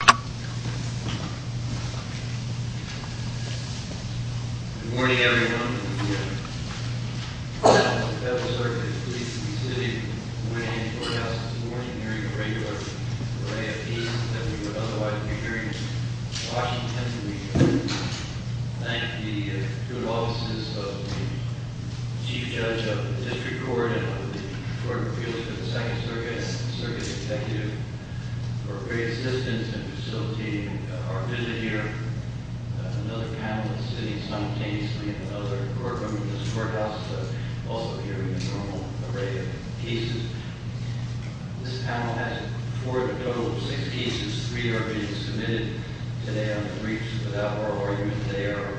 Good morning, everyone, and good morning to the members of the Federal Circuit, the police and the city, and good morning to the courthouse. This is a morning hearing of a regular array of cases that we would otherwise be hearing in Washington. We thank the good offices of the Chief Judge of the District Court and of the Court of Appeals for the Second Circuit and the Circuit Executive for great assistance in facilitating our visit here. Another panel is sitting simultaneously in another courtroom in this courthouse, but also hearing a normal array of cases. This panel has reported a total of six cases. Three are being submitted today on the briefs. Without more argument, they are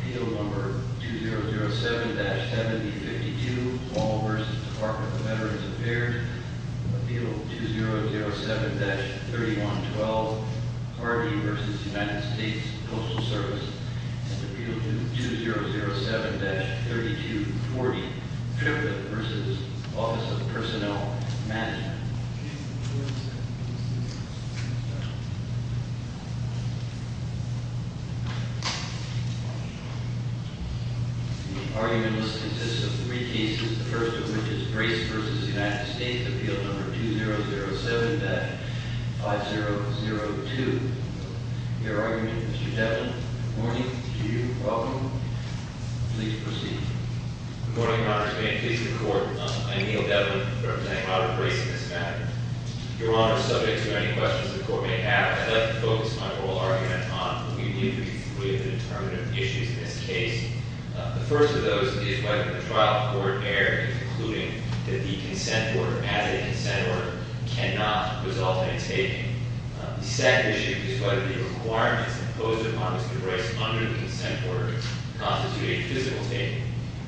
Appeal Number 2007-7052, Wall v. Department of Veterans Affairs. Appeal 2007-3112, Harvey v. United States Postal Service. And Appeal 2007-3240, Tribune v. Office of Personnel Management. The argument consists of three cases, the first of which is Brace v. United States, Appeal Number 2007-5002. Your argument, Mr. Devlin. Good morning to you. Welcome. Please proceed. Good morning, Your Honors. May it please the Court. I'm Neil Devlin, representing Robert Brace in this matter. Your Honor, subject to any questions the Court may have, I'd like to focus my oral argument on what we believe to be three of the determinative issues in this case. The first of those is whether the trial court error in concluding that the consent order, as a consent order, cannot result in a taking. The second issue is whether the requirements imposed upon Mr. Brace under the consent order constitute a physical taking.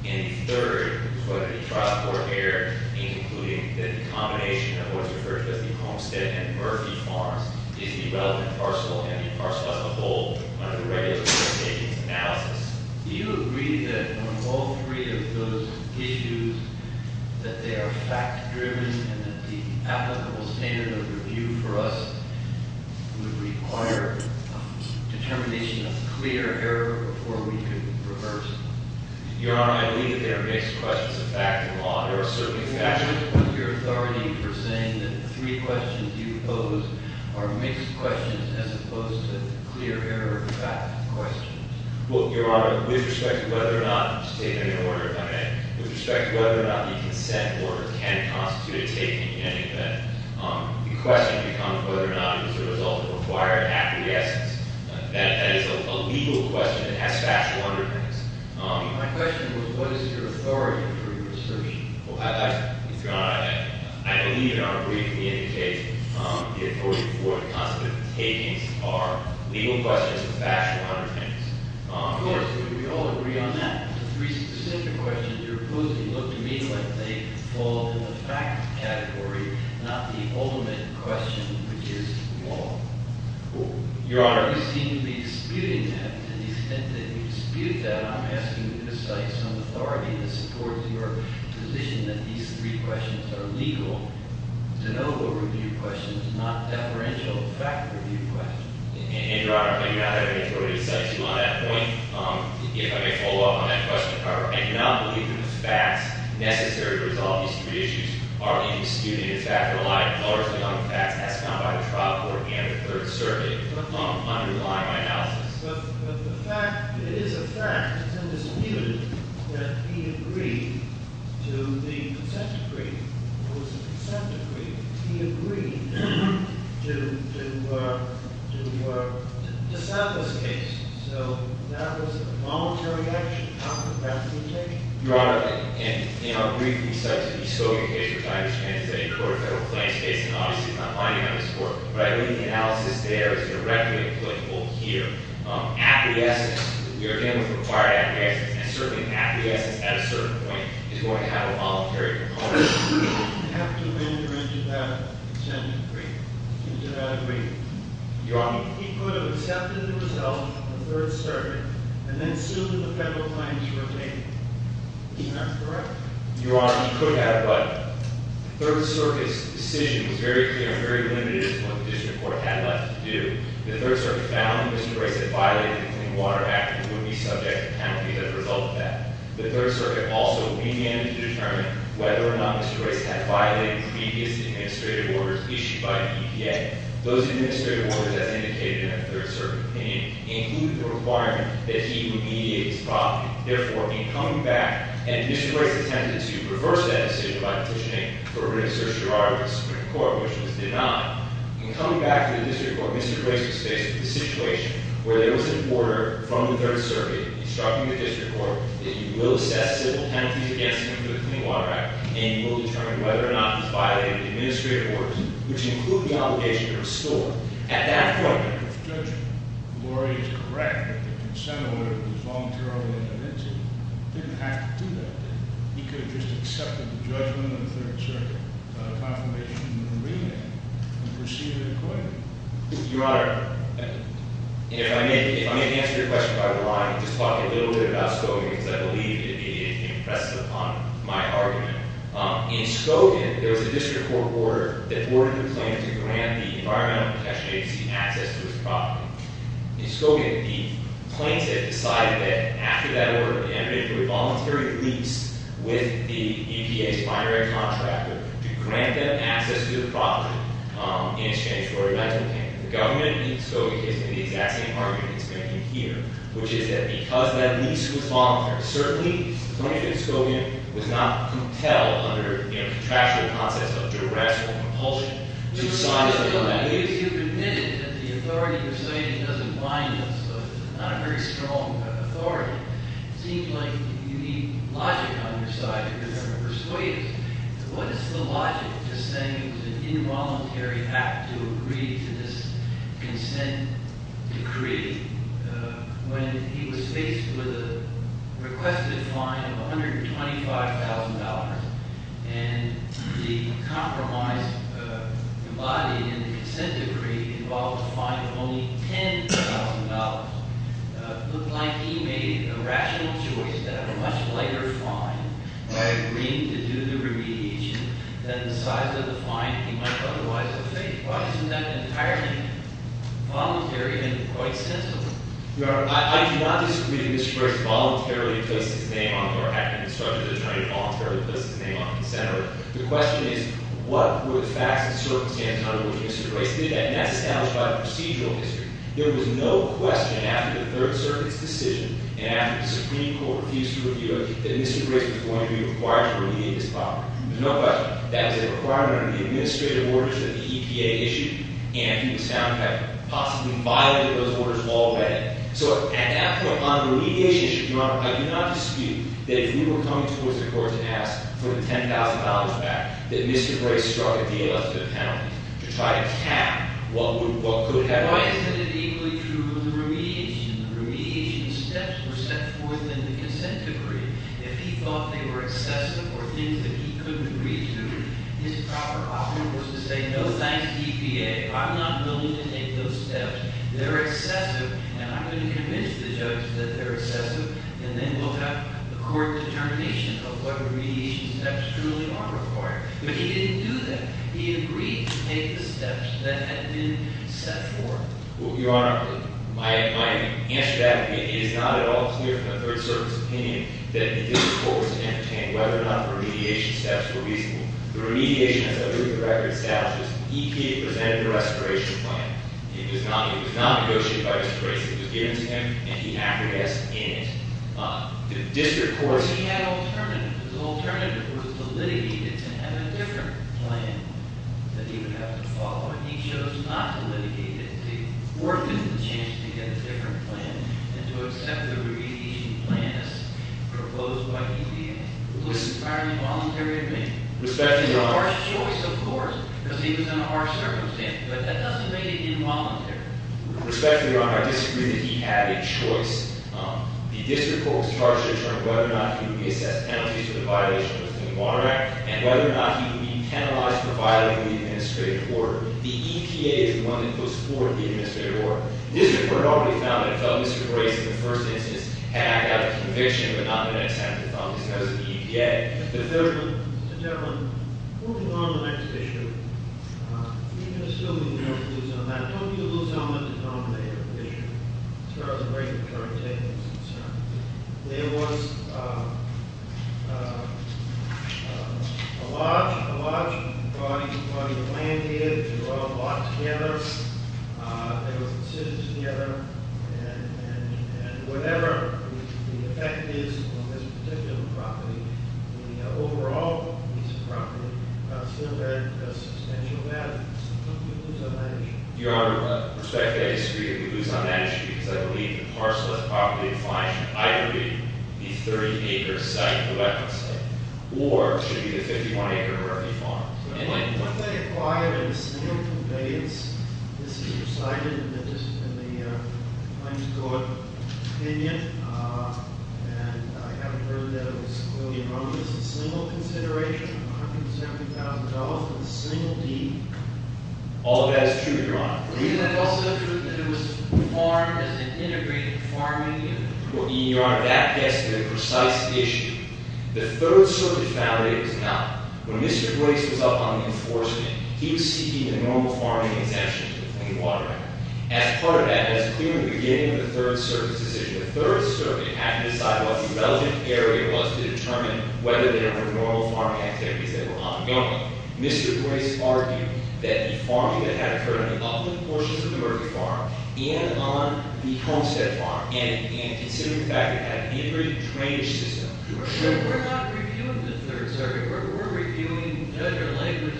And the third is whether the trial court error in concluding that the combination of what's referred to as the Homestead and Murphy farms is the relevant parcel and the parcel as a whole under the regular court takings analysis. Do you agree that on all three of those issues that they are fact-driven and that the applicable standard of review for us would require a determination of clear error before we could reverse them? Your Honor, I believe that they are mixed questions of fact and law. There are certain factors. Do you support your authority for saying that the three questions you pose are mixed questions as opposed to clear error of fact questions? Well, Your Honor, with respect to whether or not the consent order can constitute a taking, I think that the question becomes whether or not it was a result of required acquiescence. That is a legal question. It has factual underpinnings. My question was, what is your authority for your assertion? Your Honor, I believe in our brief we indicate the authority for the consent of the takings are legal questions with factual underpinnings. Of course, we all agree on that. The three specific questions you're posing look to me like they fall in the fact category, not the ultimate question, which is law. Your Honor. Your Honor, you seem to be disputing that. To the extent that you dispute that, I'm asking you to cite some authority that supports your position that these three questions are legal, de novo review questions, not deferential fact review questions. And, Your Honor, I do not have any authority to cite you on that point. If I may follow up on that question, I do not believe that the facts necessary to resolve these three issues are being disputed. In fact, there are a lot of colors beyond the facts as found by the trial court and the third survey underlying my analysis. But the fact is a fact. It's been disputed that he agreed to the consent decree. It was a consent decree. He agreed to settle this case. So that was a voluntary action. How could that be taken? Your Honor, in our brief research, we saw the case which I understand is a court of federal claims case. And obviously, it's not binding on this court. But I believe the analysis there is directly applicable here. At the essence, we are dealing with a required acquiescence. And certainly, acquiescence at a certain point is going to have a voluntary component. I have to render into that consent decree. I do not agree. Your Honor. He could have accepted the result of the third circuit. And then, soon, the federal claims were made. Isn't that correct? Your Honor, he could have. But the third circuit's decision was very clear and very limited as to what the district court had left to do. The third circuit found that Mr. Royce had violated the Clean Water Act and would be subject to penalty as a result of that. The third circuit also began to determine whether or not Mr. Royce had violated previous administrative orders issued by EPA. Those administrative orders, as indicated in the third circuit opinion, included the requirement that he remediate his problem. Therefore, in coming back, and Mr. Royce attempted to reverse that decision by petitioning for a written certiorari with the Supreme Court, which was denied. In coming back to the district court, Mr. Royce was faced with the situation where there was an order from the third circuit instructing the district court that you will assess civil penalties against him for the Clean Water Act. And you will determine whether or not he's violated the administrative orders, which include the obligation to restore. At that point, if Judge Lori is correct that the consent order was voluntarily admitted to him, he didn't have to do that. He could have just accepted the judgment of the third circuit confirmation and remand and proceeded accordingly. Your Honor, if I may answer your question by relying, just talking a little bit about Scogin, because I believe it impresses upon my argument. In Scogin, there was a district court order that ordered the claim to grant the Environmental Protection Agency access to his property. In Scogin, the plaintiff decided that after that order, admitted to a voluntary lease with the EPA's primary contractor to grant them access to the property in exchange for a rental payment. The government in Scogin is making the exact same argument it's making here, which is that because that lease was voluntary, certainly plaintiff in Scogin was not compelled under contractual concepts of duress or compulsion to sign a bill. Your Honor, if you've admitted that the authority of persuasion doesn't bind us, not a very strong authority, it seems like you need logic on your side to persuade us. What is the logic to saying it was an involuntary act to agree to this consent decree when he was faced with a requested fine of $125,000 and the compromise embodied in the consent decree involved a fine of only $10,000? It looked like he made a rational choice to have a much lighter fine by agreeing to do the remediation than the size of the fine he might otherwise have faced. Why isn't that entirely voluntary and quite sensible? Your Honor, I do not disagree that Mr. Grace voluntarily put his name on it or acted in Scogin's attorney voluntarily put his name on the consent order. The question is, what were the facts and circumstances under which Mr. Grace did that, and that's established by the procedural history. There was no question after the Third Circuit's decision and after the Supreme Court refused to review it that Mr. Grace was going to be required to remediate his fine. There's no question. That was a requirement under the administrative orders that the EPA issued, and he was found to have possibly violated those orders while away. So at that point, on the remediation issue, Your Honor, I do not dispute that if we were coming towards the courts and asked for the $10,000 back, that Mr. Grace struck a deal with the panel to try to cap what could have been. Why isn't it equally true that the remediation steps were set forth in the consent decree? If he thought they were excessive or things that he couldn't agree to, his proper option was to say, no, thanks, EPA. I'm not willing to take those steps. They're excessive, and I'm going to convince the judge that they're excessive, and then we'll have a court determination of what remediation steps truly are required. But he didn't do that. He agreed to take the steps that had been set forth. Your Honor, my answer to that is it is not at all clear from a third-service opinion that the district court was entertained whether or not the remediation steps were reasonable. The remediation, as I believe the record establishes, EPA presented a restoration plan. It was not negotiated by Mr. Grace. It was given to him, and he acted as in it. The district court- He had an alternative. The alternative was to litigate it and have a different plan that he would have to follow. He chose not to litigate it, to forfeit the chance to get a different plan, and to accept the remediation plan as proposed by EPA. It was an entirely voluntary agreement. Respecting your Honor- It was a harsh choice, of course, because he was in a harsh circumstance, but that doesn't make it involuntary. Respecting your Honor, I disagree that he had a choice. The district court was charged to determine whether or not he would be assessed penalties for the violation of the Clean Water Act and whether or not he would be penalized for violating the administrative order. The EPA is the one that puts forward the administrative order. The district court normally found that if Mr. Grace, in the first instance, had acted out of conviction, but not the next time, it was probably because of the EPA. Mr. Devlin, moving on to the next issue, we can assume that you don't lose on that. I told you to lose on the denominator of the issue. Sir, I was afraid you were trying to take this concern. There was a large body of land here, which was all bought together. There was a decision together. And whatever the effect is on this particular property, the overall piece of property still has substantial value. You lose on that issue. Your Honor, I respectfully disagree that we lose on that issue, because I believe the parcel of the property defined should either be a 30-acre site, or it should be a 51-acre property farm. What they acquired in a single conveyance. This is recited in the claims court opinion. And I haven't heard that it was a million dollars in single consideration, $170,000 for a single deed. All of that is true, Your Honor. Is it also true that it was farmed as an integrated farming unit? Your Honor, that gets to the precise issue. The third circuit found that it was not. When Mr. Grace was up on the enforcement, he was seeking a normal farming exemption to the Clean Water Act. As part of that, that's clearly the beginning of the third circuit's decision. The third circuit had to decide what the relevant area was to determine whether there were normal farming activities that were ongoing. Mr. Grace argued that the farming that had occurred on the upland portions of the Murphy Farm and on the Homestead Farm, and considering the fact that it had an integrated drainage system. We're not reviewing the third circuit. We're reviewing Judge O'Leary's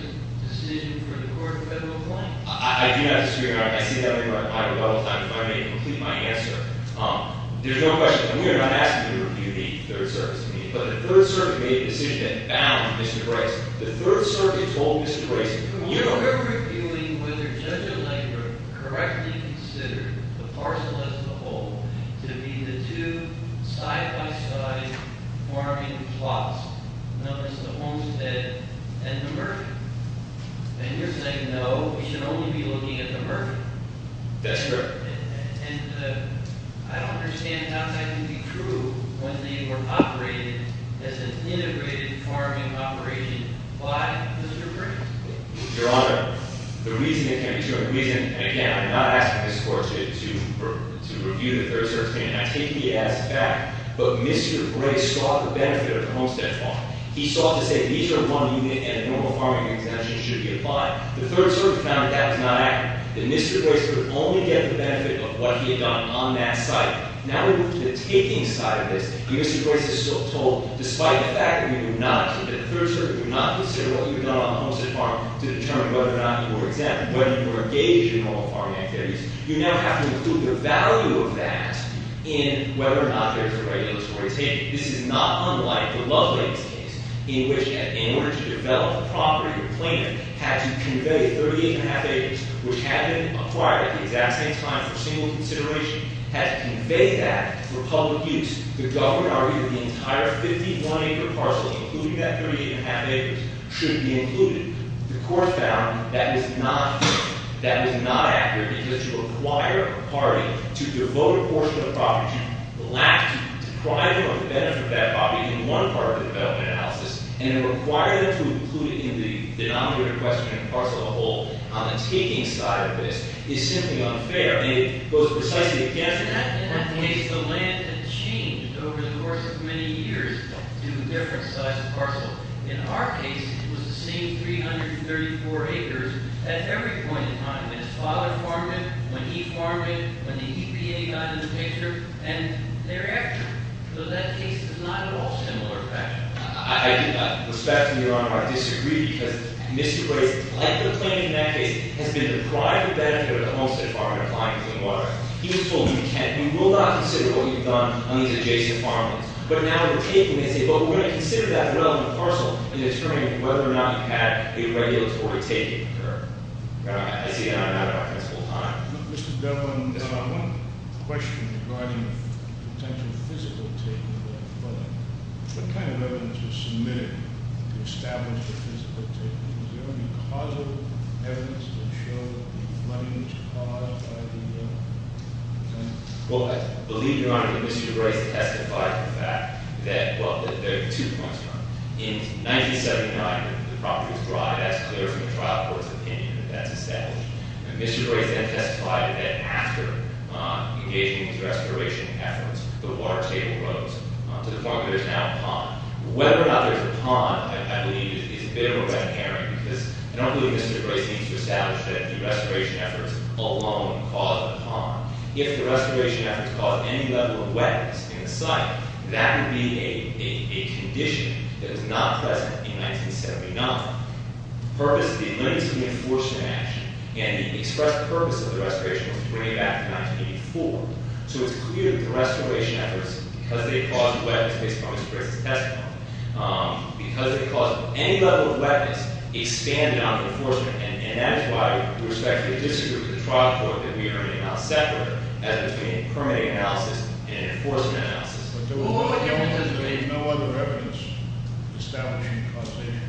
decision for the court federal claim. I do not disagree, Your Honor. I see that very well. I would, at all times, if I may, complete my answer. There's no question. We are not asking you to review the third circuit's opinion. But the third circuit made a decision that bound Mr. Grace. The third circuit told Mr. Grace- We are reviewing whether Judge O'Leary correctly considered the parcel as a whole to be the two side-by-side farming plots, known as the Homestead and the Murphy. And you're saying no, we should only be looking at the Murphy. That's correct. And I don't understand how that can be true when they were operated as an integrated farming operation by the Supreme Court. Your Honor, the reason it can't be true- And again, I'm not asking this court to review the third circuit's opinion. I take the answer back. But Mr. Grace sought the benefit of the Homestead Farm. He sought to say these are money and a normal farming exemption should be applied. The third circuit found that that was not accurate. That Mr. Grace would only get the benefit of what he had done on that site. Now we move to the taking side of this. And Mr. Grace is told, despite the fact that the third circuit did not consider what you had done on the Homestead Farm to determine whether or not you were exempt, whether you were engaged in normal farming activities, you now have to include the value of that in whether or not there's a regulatory taking. This is not unlike the Lovelace case in which, in order to develop a property or plant, had to convey 38.5 acres, which had been acquired at the exact same time for single consideration, had to convey that for public use. The government argued that the entire 51-acre parcel, including that 38.5 acres, should be included. The court found that was not accurate because to acquire a property, to devote a portion of the property to you, would lack depriving of the benefit of that property in one part of the development analysis. And it required them to include it in the denominator question in the parcel as a whole. On the taking side of this, it's simply unfair. And it goes precisely against that. In that case, the land had changed over the course of many years due to different size of parcel. In our case, it was the same 334 acres at every point in time. When his father farmed it, when he farmed it, when the EPA got in the picture. And they're accurate. So that case is not at all similar to that. I do not respect and, Your Honor, I disagree because Mr. Graves, like the claimant in that case, has been deprived of benefit of the Homestead Farm and Appliance and Water. He has told me we can't, we will not consider what we've done on these adjacent farmlands. But now we're taking this, but we're going to consider that relevant parcel in determining whether or not you've had a regulatory taking occur. I see I'm out of time. Mr. Devlin, I have one question regarding the potential physical taking of that land. What kind of evidence was submitted to establish the physical taking? Was there any causal evidence to show that the flooding was caused by the land? Well, I believe, Your Honor, that Mr. Graves testified to the fact that, well, there are two points, Your Honor. In 1979, the property was dry. That's clear from the trial court's opinion that that's established. And Mr. Graves then testified that after engaging in these restoration efforts, the water table rose to the point where there's now a pond. Whether or not there's a pond, I believe, is a bit of a red herring. Because I don't believe Mr. Graves needs to establish that the restoration efforts alone caused the pond. If the restoration efforts caused any level of wetness in the site, that would be a condition that is not present in 1979. The purpose of the amendments to the enforcement action and the express purpose of the restoration was to bring it back to 1984. So it's clear that the restoration efforts, because they caused wetness, based upon Mr. Graves' testimony, because they caused any level of wetness, expanded on the enforcement. And that is why we respectfully disagree with the trial court that we are now separate as between a permitting analysis and an enforcement analysis. What difference does it make- There was no other evidence establishing the causation,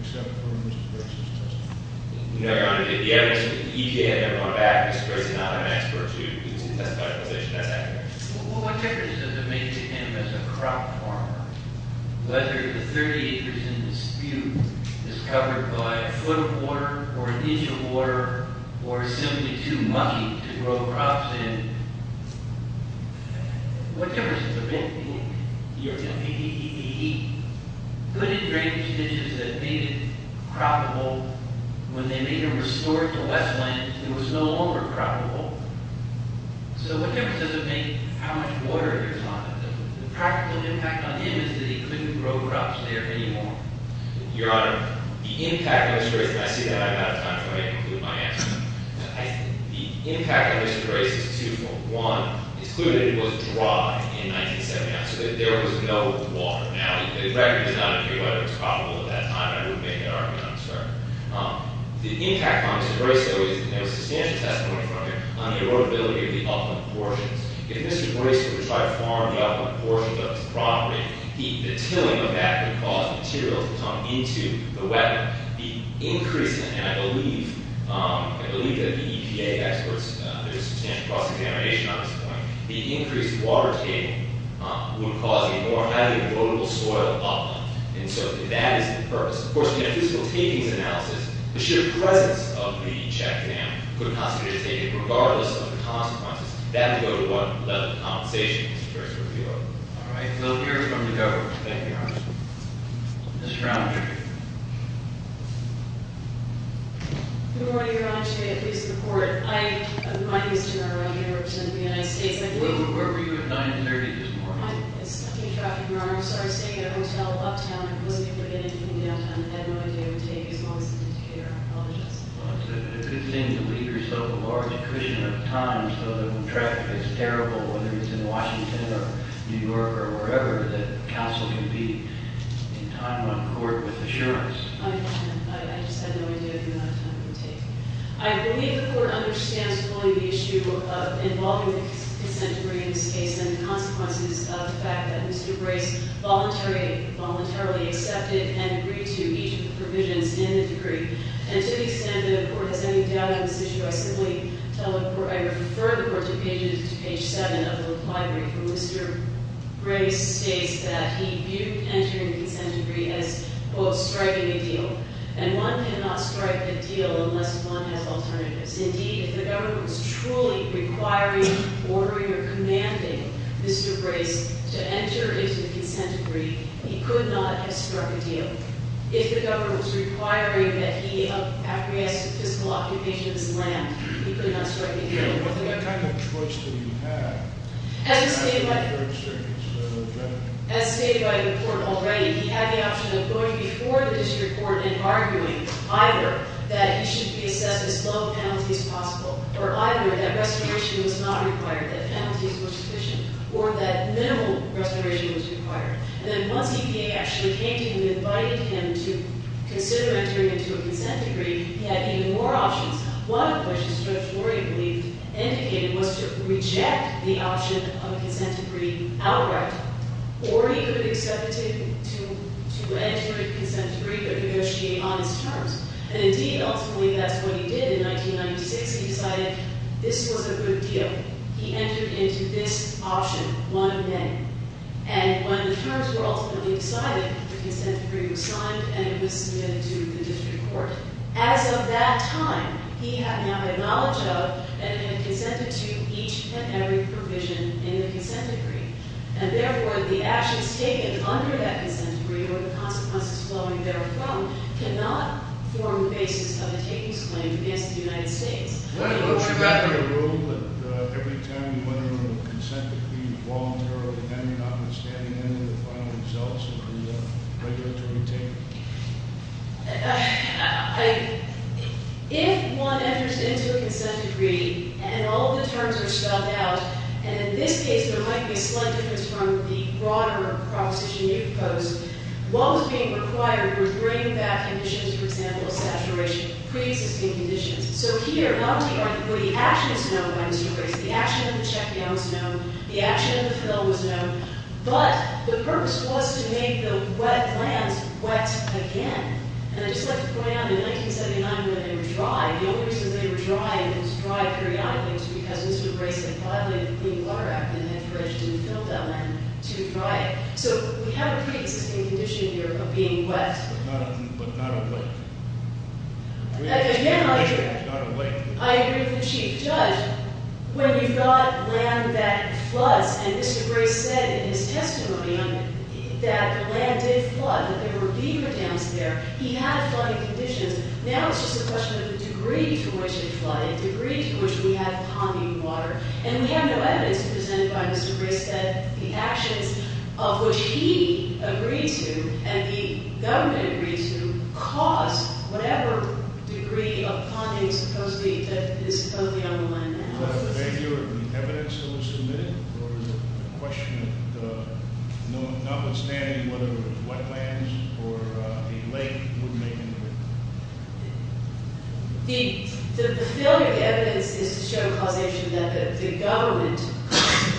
except for Mr. Graves' testimony. No, Your Honor. The evidence that he gave never went back. Mr. Graves is not an expert. He's a testified position. That's accurate. What difference does it make to him as a crop farmer? Whether the 30 acres in dispute is covered by a foot of water or an inch of water or simply too much to grow crops in, what difference does it make? You're going to be eating. Good and great traditions that made it croppable, when they made them restored to less land, it was no longer croppable. So what difference does it make how much water is on it? The practical impact on him is that he couldn't grow crops there anymore. Your Honor, the impact on Mr. Graves- And I see that I'm out of time, so I'm going to conclude my answer. The impact on Mr. Graves is two-fold. One, it's clear that it was dry in 1979, so that there was no water. Now, the record does not agree whether it was croppable at that time. I would make that argument, I'm sorry. The impact on Mr. Graves, though, is that there was substantial testimony from him on the erodibility of the upland portions. If Mr. Graves were to try to farm the upland portions of his property, the tilling of that would cause material to come into the wetland. The increase in, and I believe that the EPA experts, there was substantial cross-examination on this point, the increased water table would cause a more highly erodible soil upland. And so that is the purpose. Of course, we have physical takings analysis. The sheer presence of the check dam could possibly have taken, regardless of the consequences. That would go to what level of compensation Mr. Graves would feel. All right. We'll hear from the Governor. Thank you, Your Honor. Ms. Brown, if you're here. Good morning, Your Honor. Shea, police report. My name is Tamara. I can't represent the United States. Where were you at 930 this morning? I was stuck in traffic, Your Honor. I started staying at a hotel uptown. I had no idea it would take as long as an indicator. I apologize. Well, it's a good thing to leave yourself a large cushion of time so that when traffic gets terrible, whether it's in Washington or New York or wherever, that counsel can be in time on court with assurance. I understand. I just had no idea how long that time would take. I believe the court understands fully the issue of involving consent to bring in this case and the consequences of the fact that Mr. Graves voluntarily accepted and agreed to each of the provisions in the decree. And to the extent that the court has any doubt on this issue, I refer the court to page 7 of the reply brief where Mr. Graves states that he viewed entering the consent decree as, quote, striking a deal. And one cannot strike a deal unless one has alternatives. Indeed, if the government was truly requiring, ordering, or commanding Mr. Graves to enter into the consent decree, he could not have struck a deal. If the government was requiring that he acquiesce to fiscal occupation of his land, he could not strike a deal. What kind of choice did he have? As stated by the court already, he had the option of going before the district court and arguing either that he should be assessed as low a penalty as possible or either that restoration was not required, that penalties were sufficient, or that minimal restoration was required. And then once EPA actually came to him and invited him to consider entering into a consent decree, he had even more options. One of which, as Judge Lori had indicated, was to reject the option of a consent decree outright. Or he could have accepted to enter a consent decree but negotiate on his terms. And indeed, ultimately, that's what he did in 1996. He decided this was a good deal. He entered into this option one day. And when the terms were ultimately decided, the consent decree was signed, and it was submitted to the district court. As of that time, he had now had knowledge of and had consented to each and every provision in the consent decree. And therefore, the actions taken under that consent decree, or the consequences flowing therefrom, cannot form the basis of a takings claim against the United States. Why don't you wrap it in a rule that every time you enter into a consent decree, you volunteer or defend, you're not going to stand in there to find yourselves in the regulatory table? If one enters into a consent decree and all the terms are spelled out, and in this case there might be a slight difference from the broader proposition you proposed, what was being required was bringing back conditions, for example, of saturation, pre-existing conditions. So here, not only are the actions known by Mr. Grayson, the action of the check down was known, the action of the fill was known, but the purpose was to make the wet lands wet again. And I'd just like to point out, in 1979, when they were dry, the only reason they were dry, and it was dry periodically, was because Mr. Grayson bought in the Clean Water Act and had pledged to fill that land to dry it. So we have a pre-existing condition here of being wet. But not awake. Again, I agree. Not awake. I agree with the Chief Judge. When you've got land that floods, and Mr. Grayson said in his testimony that the land did flood, that there were beaver dams there, he had flooding conditions. Now it's just a question of the degree to which it flooded, the degree to which we have ponding water. And we have no evidence presented by Mr. Grayson that the actions of which he agreed to and the government agreed to caused whatever degree of ponding that is supposedly on the land now. Is that a failure of the evidence that was submitted? Or is it a question of notwithstanding whether it was wetlands or a lake? The failure of the evidence is to show causation that the government,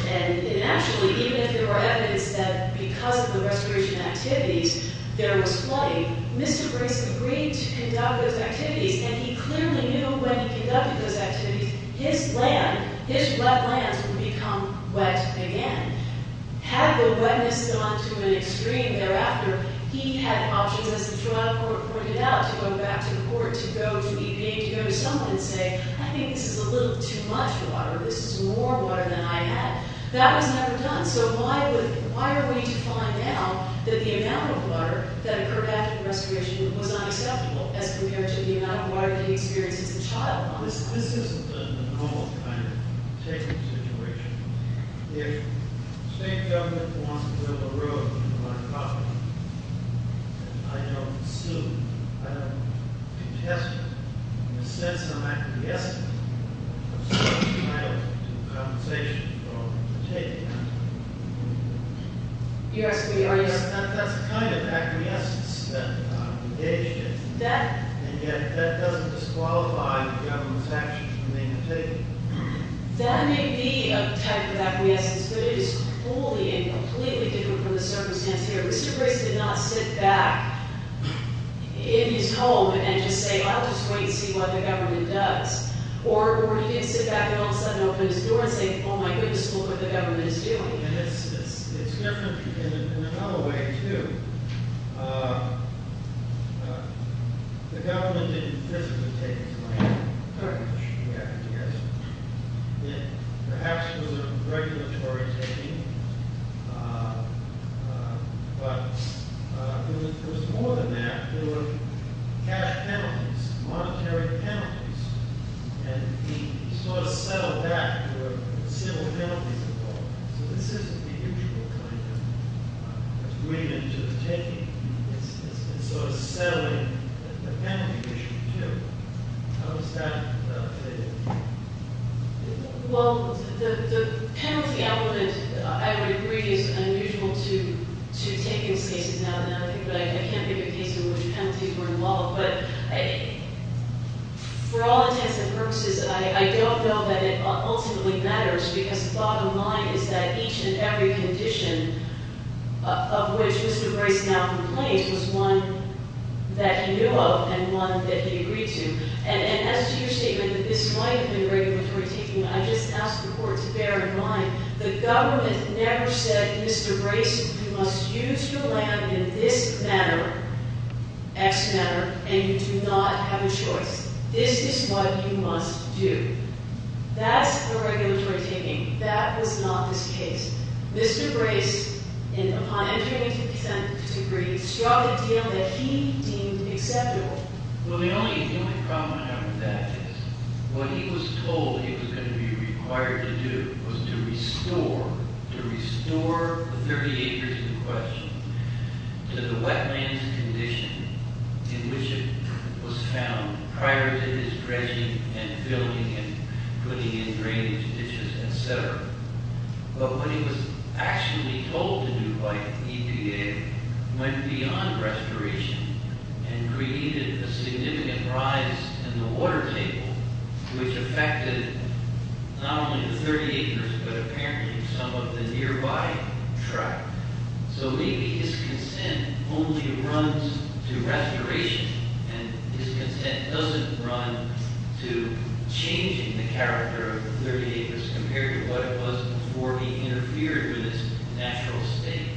and actually, even if there were evidence that because of the restoration activities, there was flooding, Mr. Grayson agreed to conduct those activities, and he clearly knew when he conducted those activities his land, his wetlands would become wet again. Had the wetness gone to an extreme thereafter, he had options, as the trial court pointed out, to go back to the court, to go to EPA, to go to someone and say, I think this is a little too much water. This is more water than I had. That was never done. So why are we to find out that the amount of water that occurred after the restoration was unacceptable as compared to the amount of water that he experienced as a child all this time? This isn't a normal kind of taking situation. If the state government wants to build a road, and you want to cover it, and I don't assume, I don't contest it in the sense of acquiescence, of some kind of compensation for taking it, that's the kind of acquiescence that we need. And yet that doesn't disqualify the government's actions when they have taken it. That may be a type of acquiescence, but it is wholly and completely different from the circumstance here. Mr. Grayson did not sit back in his home and just say, I'll just wait and see what the government does. Or he didn't sit back and all of a sudden open his door and say, oh my goodness, look what the government is doing. It's different in another way, too. The government didn't physically take his money. Perhaps it was a regulatory taking. But it was more than that. There were cash penalties, monetary penalties. And he sort of settled that with civil penalties involved. So this isn't the usual kind of agreement to the taking. It's sort of settling the penalty issue, too. How does that play out? Well, the penalty element, I would agree, is unusual to takings cases now and then. I can't think of a case in which penalties were involved. But for all intents and purposes, I don't know that it ultimately matters. Because the bottom line is that each and every condition of which Mr. Grayson now complains was one that he knew of and one that he agreed to. And as to your statement that this might have been a regulatory taking, I just ask the Court to bear in mind the government never said, Mr. Grayson, you must use your land in this manner, X manner, and you do not have a choice. This is what you must do. That's a regulatory taking. That was not this case. Mr. Grayson, upon entering into consent to agree, struck a deal that he deemed acceptable. Well, the only problem I have with that is what he was told he was going to be required to do was to restore the 30 acres in question to the wetlands condition in which it was found prior to his dredging and filling and putting in drainage ditches, et cetera. But what he was actually told to do by EPA went beyond restoration and created a significant rise in the water table, which affected not only the 30 acres but apparently some of the nearby track. So maybe his consent only runs to restoration, and his consent doesn't run to changing the character of the 30 acres compared to what it was before he interfered with its natural state.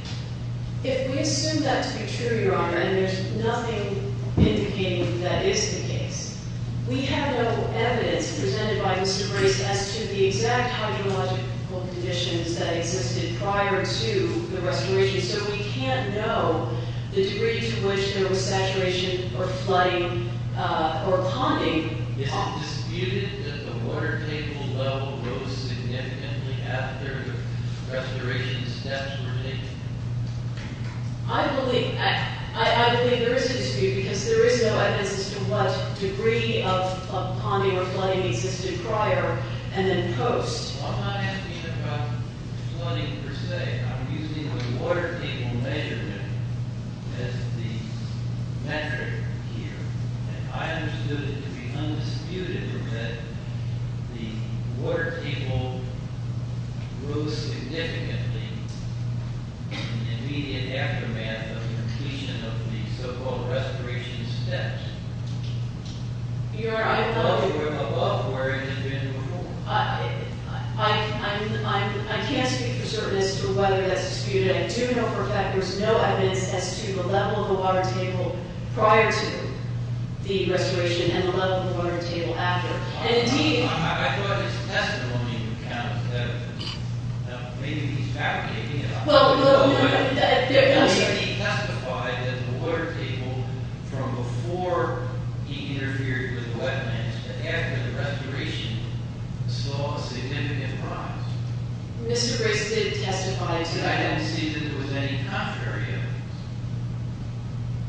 If we assume that to be true, Your Honor, and there's nothing indicating that is the case, we have no evidence presented by Mr. Grayson as to the exact hydrological conditions that existed prior to the restoration. So we can't know the degree to which there was saturation or flooding or ponding. Is it disputed that the water table level rose significantly after restoration steps were taken? I believe there is a dispute because there is no evidence as to what degree of ponding or flooding existed prior and then post. I'm not asking about flooding per se. I'm using the water table measurement as the metric here. And I understood it to be undisputed that the water table rose significantly in the immediate aftermath of the completion of the so-called restoration steps. Your Honor, I- Well, if it went above, where is it going to go? I can't speak for certain as to whether that's disputed. I do know for a fact there's no evidence as to the level of the water table prior to the restoration and the level of the water table after. And indeed- I thought his testimony would count as evidence. Maybe he's fabricating it. He testified that the water table, from before he interfered with wetlands to after the restoration, saw a significant rise. Mr. Grace did testify to that. But I didn't see that there was any contrary evidence.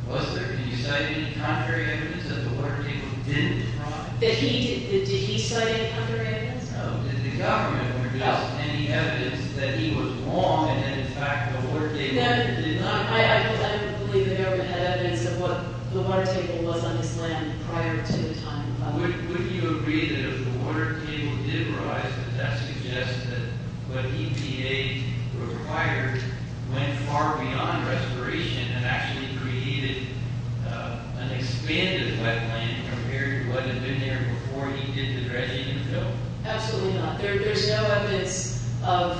Was there? Did he cite any contrary evidence that the water table didn't rise? Did he cite any contrary evidence? Did the government produce any evidence that he was wrong and that, in fact, the water table didn't rise? I don't believe the government had evidence of what the water table was on this land prior to the time of- Would you agree that if the water table did rise, would that suggest that what EPA required went far beyond restoration and actually created an expanded wetland compared to what had been there before he did the dredging and fill? Absolutely not. There's no evidence of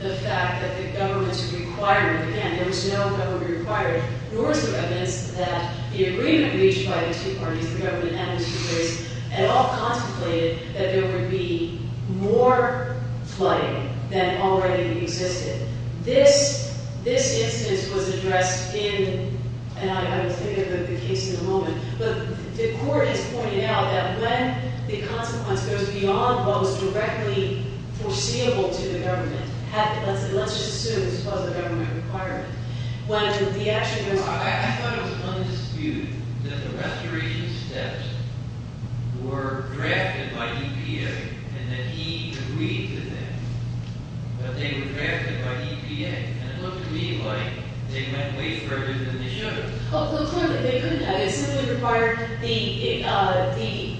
the fact that the government's required. Again, there was no government required. Nor is there evidence that the agreement reached by the two parties, the government and Mr. Grace, at all contemplated that there would be more flooding than already existed. This instance was addressed in- and I will think of the case in a moment. But the court has pointed out that when the consequence goes beyond what was directly foreseeable to the government- let's just assume this was a government requirement- when the action goes- I thought it was on dispute that the restoration steps were drafted by EPA and that he agreed to them. But they were drafted by EPA. And it looked to me like they went way further than they should have. Well, clearly, they couldn't have. It simply required the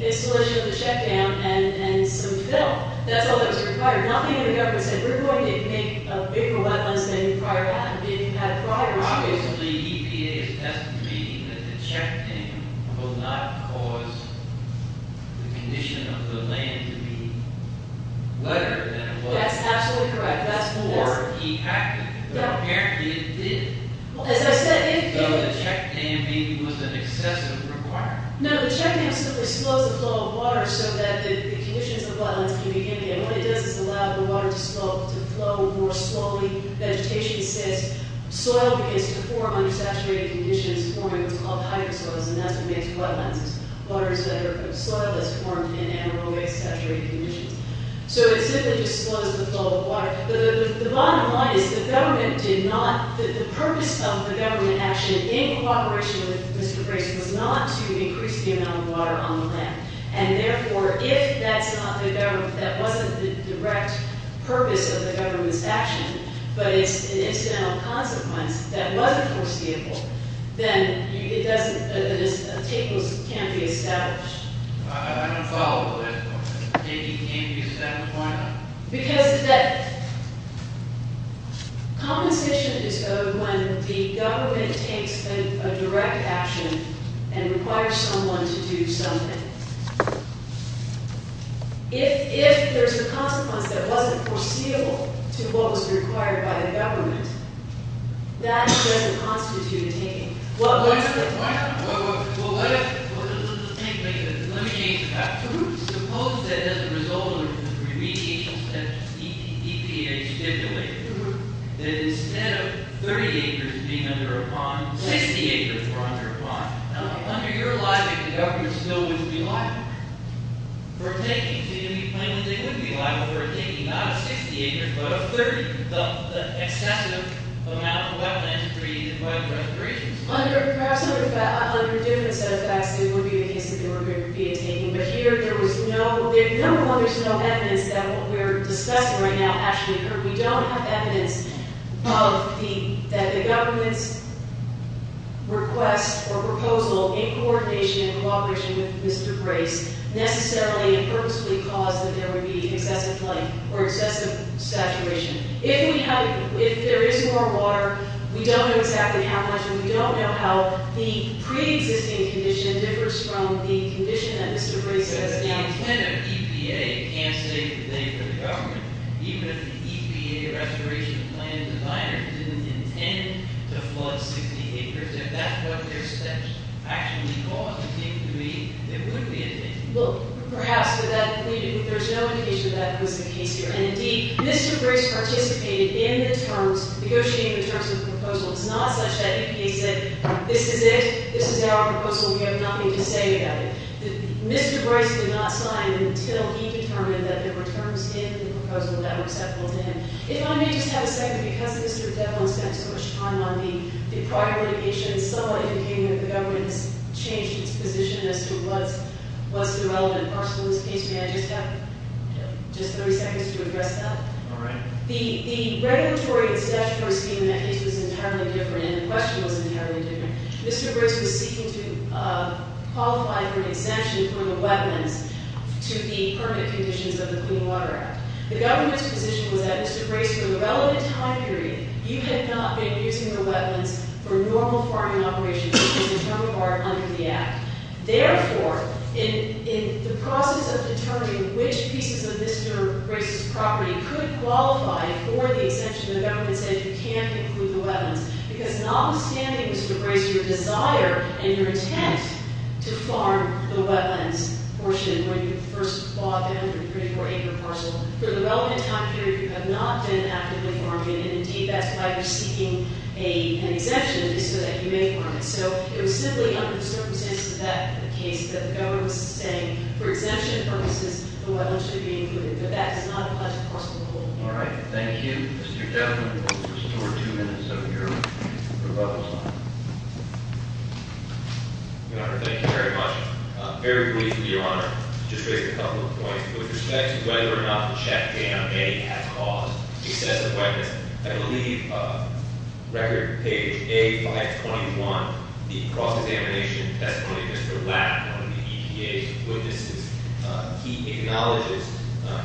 installation of the check dam and some fill. That's all that was required. Nothing in the government said, we're going to make a bigger wetland than it had prior. Obviously, EPA is estimating that the check dam will not cause the condition of the land to be wetter than it was. That's absolutely correct. That's more- Or de-activated. Yeah. But apparently it did. As I said, if- So the check dam maybe was an excessive requirement. No, the check dam simply slows the flow of water so that the conditions of the wetlands can begin again. What it does is allow the water to flow more slowly. Vegetation says soil begins to form under saturated conditions, forming what's called hydrosoils. And that's what makes wetlands. Soil is formed in anaerobic, saturated conditions. So it simply just slows the flow of water. The bottom line is the government did not- The purpose of the government action in cooperation with Mr. Grayson was not to increase the amount of water on the land. And therefore, if that's not the government- That wasn't the direct purpose of the government's action, but it's an incidental consequence that wasn't foreseeable, then it doesn't- A table can't be established. I don't follow. A table can't be established? Why not? Because that- Compensation is owed when the government takes a direct action and requires someone to do something. If there's a consequence that wasn't foreseeable to what was required by the government, that doesn't constitute a taking. Why not? Why not? Well, let me change that. Suppose that as a result of the remediation steps EPA stipulated, that instead of 30 acres being under a pond, 60 acres were under a pond. Now, under your logic, the government still wouldn't be liable for taking. So you'd be claiming that they would be liable for taking not a 60 acres, but a 30, the excessive amount of wetlands created by the restoration. Perhaps under a different set of facts, it would be the case that there would be a taking. But here, there was no- Number one, there's no evidence that what we're discussing right now actually occurred. We don't have evidence that the government's request or proposal in coordination and cooperation with Mr. Grace necessarily and purposefully caused that there would be excessive length or excessive saturation. If there is more water, we don't know exactly how much, and we don't know how the pre-existing condition differs from the condition that Mr. Grace has now- So the intent of EPA can't save the day for the government, even if the EPA restoration plan designer didn't intend to flood 60 acres, if that's what their steps actually caused, it would be a taking. Well, perhaps, but there's no indication that that was the case here. And indeed, Mr. Grace participated in the terms, negotiating the terms of the proposal. It's not such that EPA said, this is it, this is our proposal, we have nothing to say about it. Mr. Grace did not sign until he determined that there were terms in the proposal that were acceptable to him. If I may just have a second, because Mr. Devlin spent so much time on the prior litigation, someone who came with the government has changed its position as to what's the relevant parcel in this case. May I just have just 30 seconds to address that? All right. The regulatory and statutory scheme in that case was entirely different, and the question was entirely different. Mr. Grace was seeking to qualify for an exemption from the wetlands to the permanent conditions of the Clean Water Act. The government's position was that Mr. Grace, for the relevant time period, you had not been using the wetlands for normal farming operations, which is the term of art under the Act. Therefore, in the process of determining which pieces of Mr. Grace's property could qualify for the exemption, the government said you can't include the wetlands. Because notwithstanding, Mr. Grace, your desire and your intent to farm the wetlands portion, when you first clawed down your 34-acre parcel, for the relevant time period, you have not been actively farming. And indeed, that's why you're seeking an exemption, so that you may farm it. So it was simply under the circumstances of that case that the government was saying, for exemption purposes, the wetlands should be included. But that does not apply to the parcel at all. All right. Thank you. Mr. Chairman, we'll restore two minutes of your rebuttal time. Your Honor, thank you very much. Very briefly, Your Honor, just to raise a couple of points with respect to whether or not the check in on any half-caused excessive wetland. I believe record page A521, the cross-examination testimony of Mr. Lapp, one of the EPA's witnesses. He acknowledges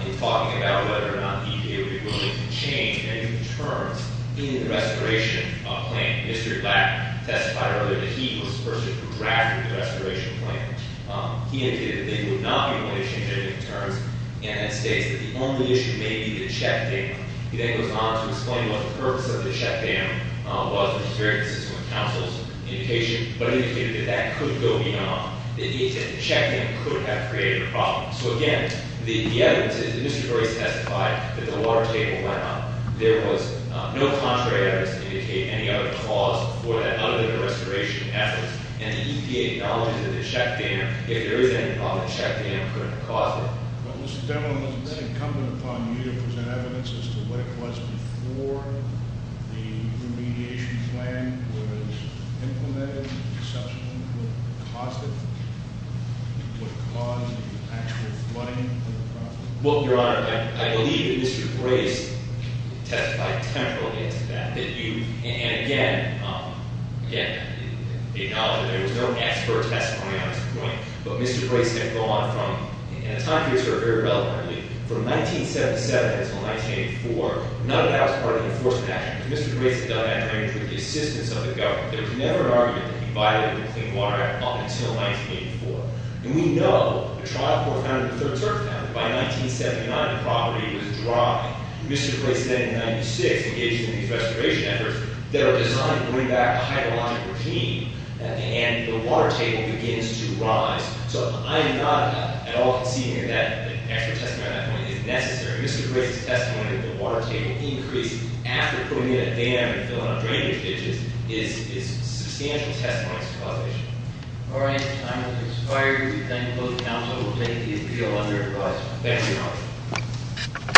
in talking about whether or not EPA would be willing to change any of the terms in the restoration plan. Mr. Lapp testified earlier that he was the person who drafted the restoration plan. He indicated that he would not be willing to change any of the terms. And that states that the only issue may be the check date. He then goes on to explain what the purpose of the check dam was, and experiences with counsel's indication, but indicated that that could go beyond, that the check dam could have created a problem. So again, the evidence is that Mr. Dory testified that the water table went up. There was no contrary evidence to indicate any other cause for that other than the restoration efforts. And the EPA acknowledges that the check dam, if there is any problem, the check dam could have caused it. Mr. Devlin, was it incumbent upon you to present evidence as to what it was before the remediation plan was implemented, and subsequently what caused it, what caused the actual flooding of the property? Well, Your Honor, I believe that Mr. Grace testified temporally to that. And again, he acknowledged that there was no expert testimony on this point. But Mr. Grace did go on from, and the time periods are very relevant, really. From 1977 until 1984, none of that was part of the enforcement action. Mr. Grace had done that under the assistance of the government. There was never an argument that he violated the Clean Water Act up until 1984. And we know the trial court found in the 3rd Circumstance that by 1979 the property was dry. Mr. Grace then in 96 engaged in these restoration efforts that are designed to bring back a hydrologic regime. And the water table begins to rise. So I am not at all conceding that the expert testimony on that point is necessary. Mr. Grace's testimony that the water table increased after putting in a dam and filling up drainage ditches is substantial testimony to the causation. All right. The time has expired. Thank you both counsel. Thank you, Your Honor.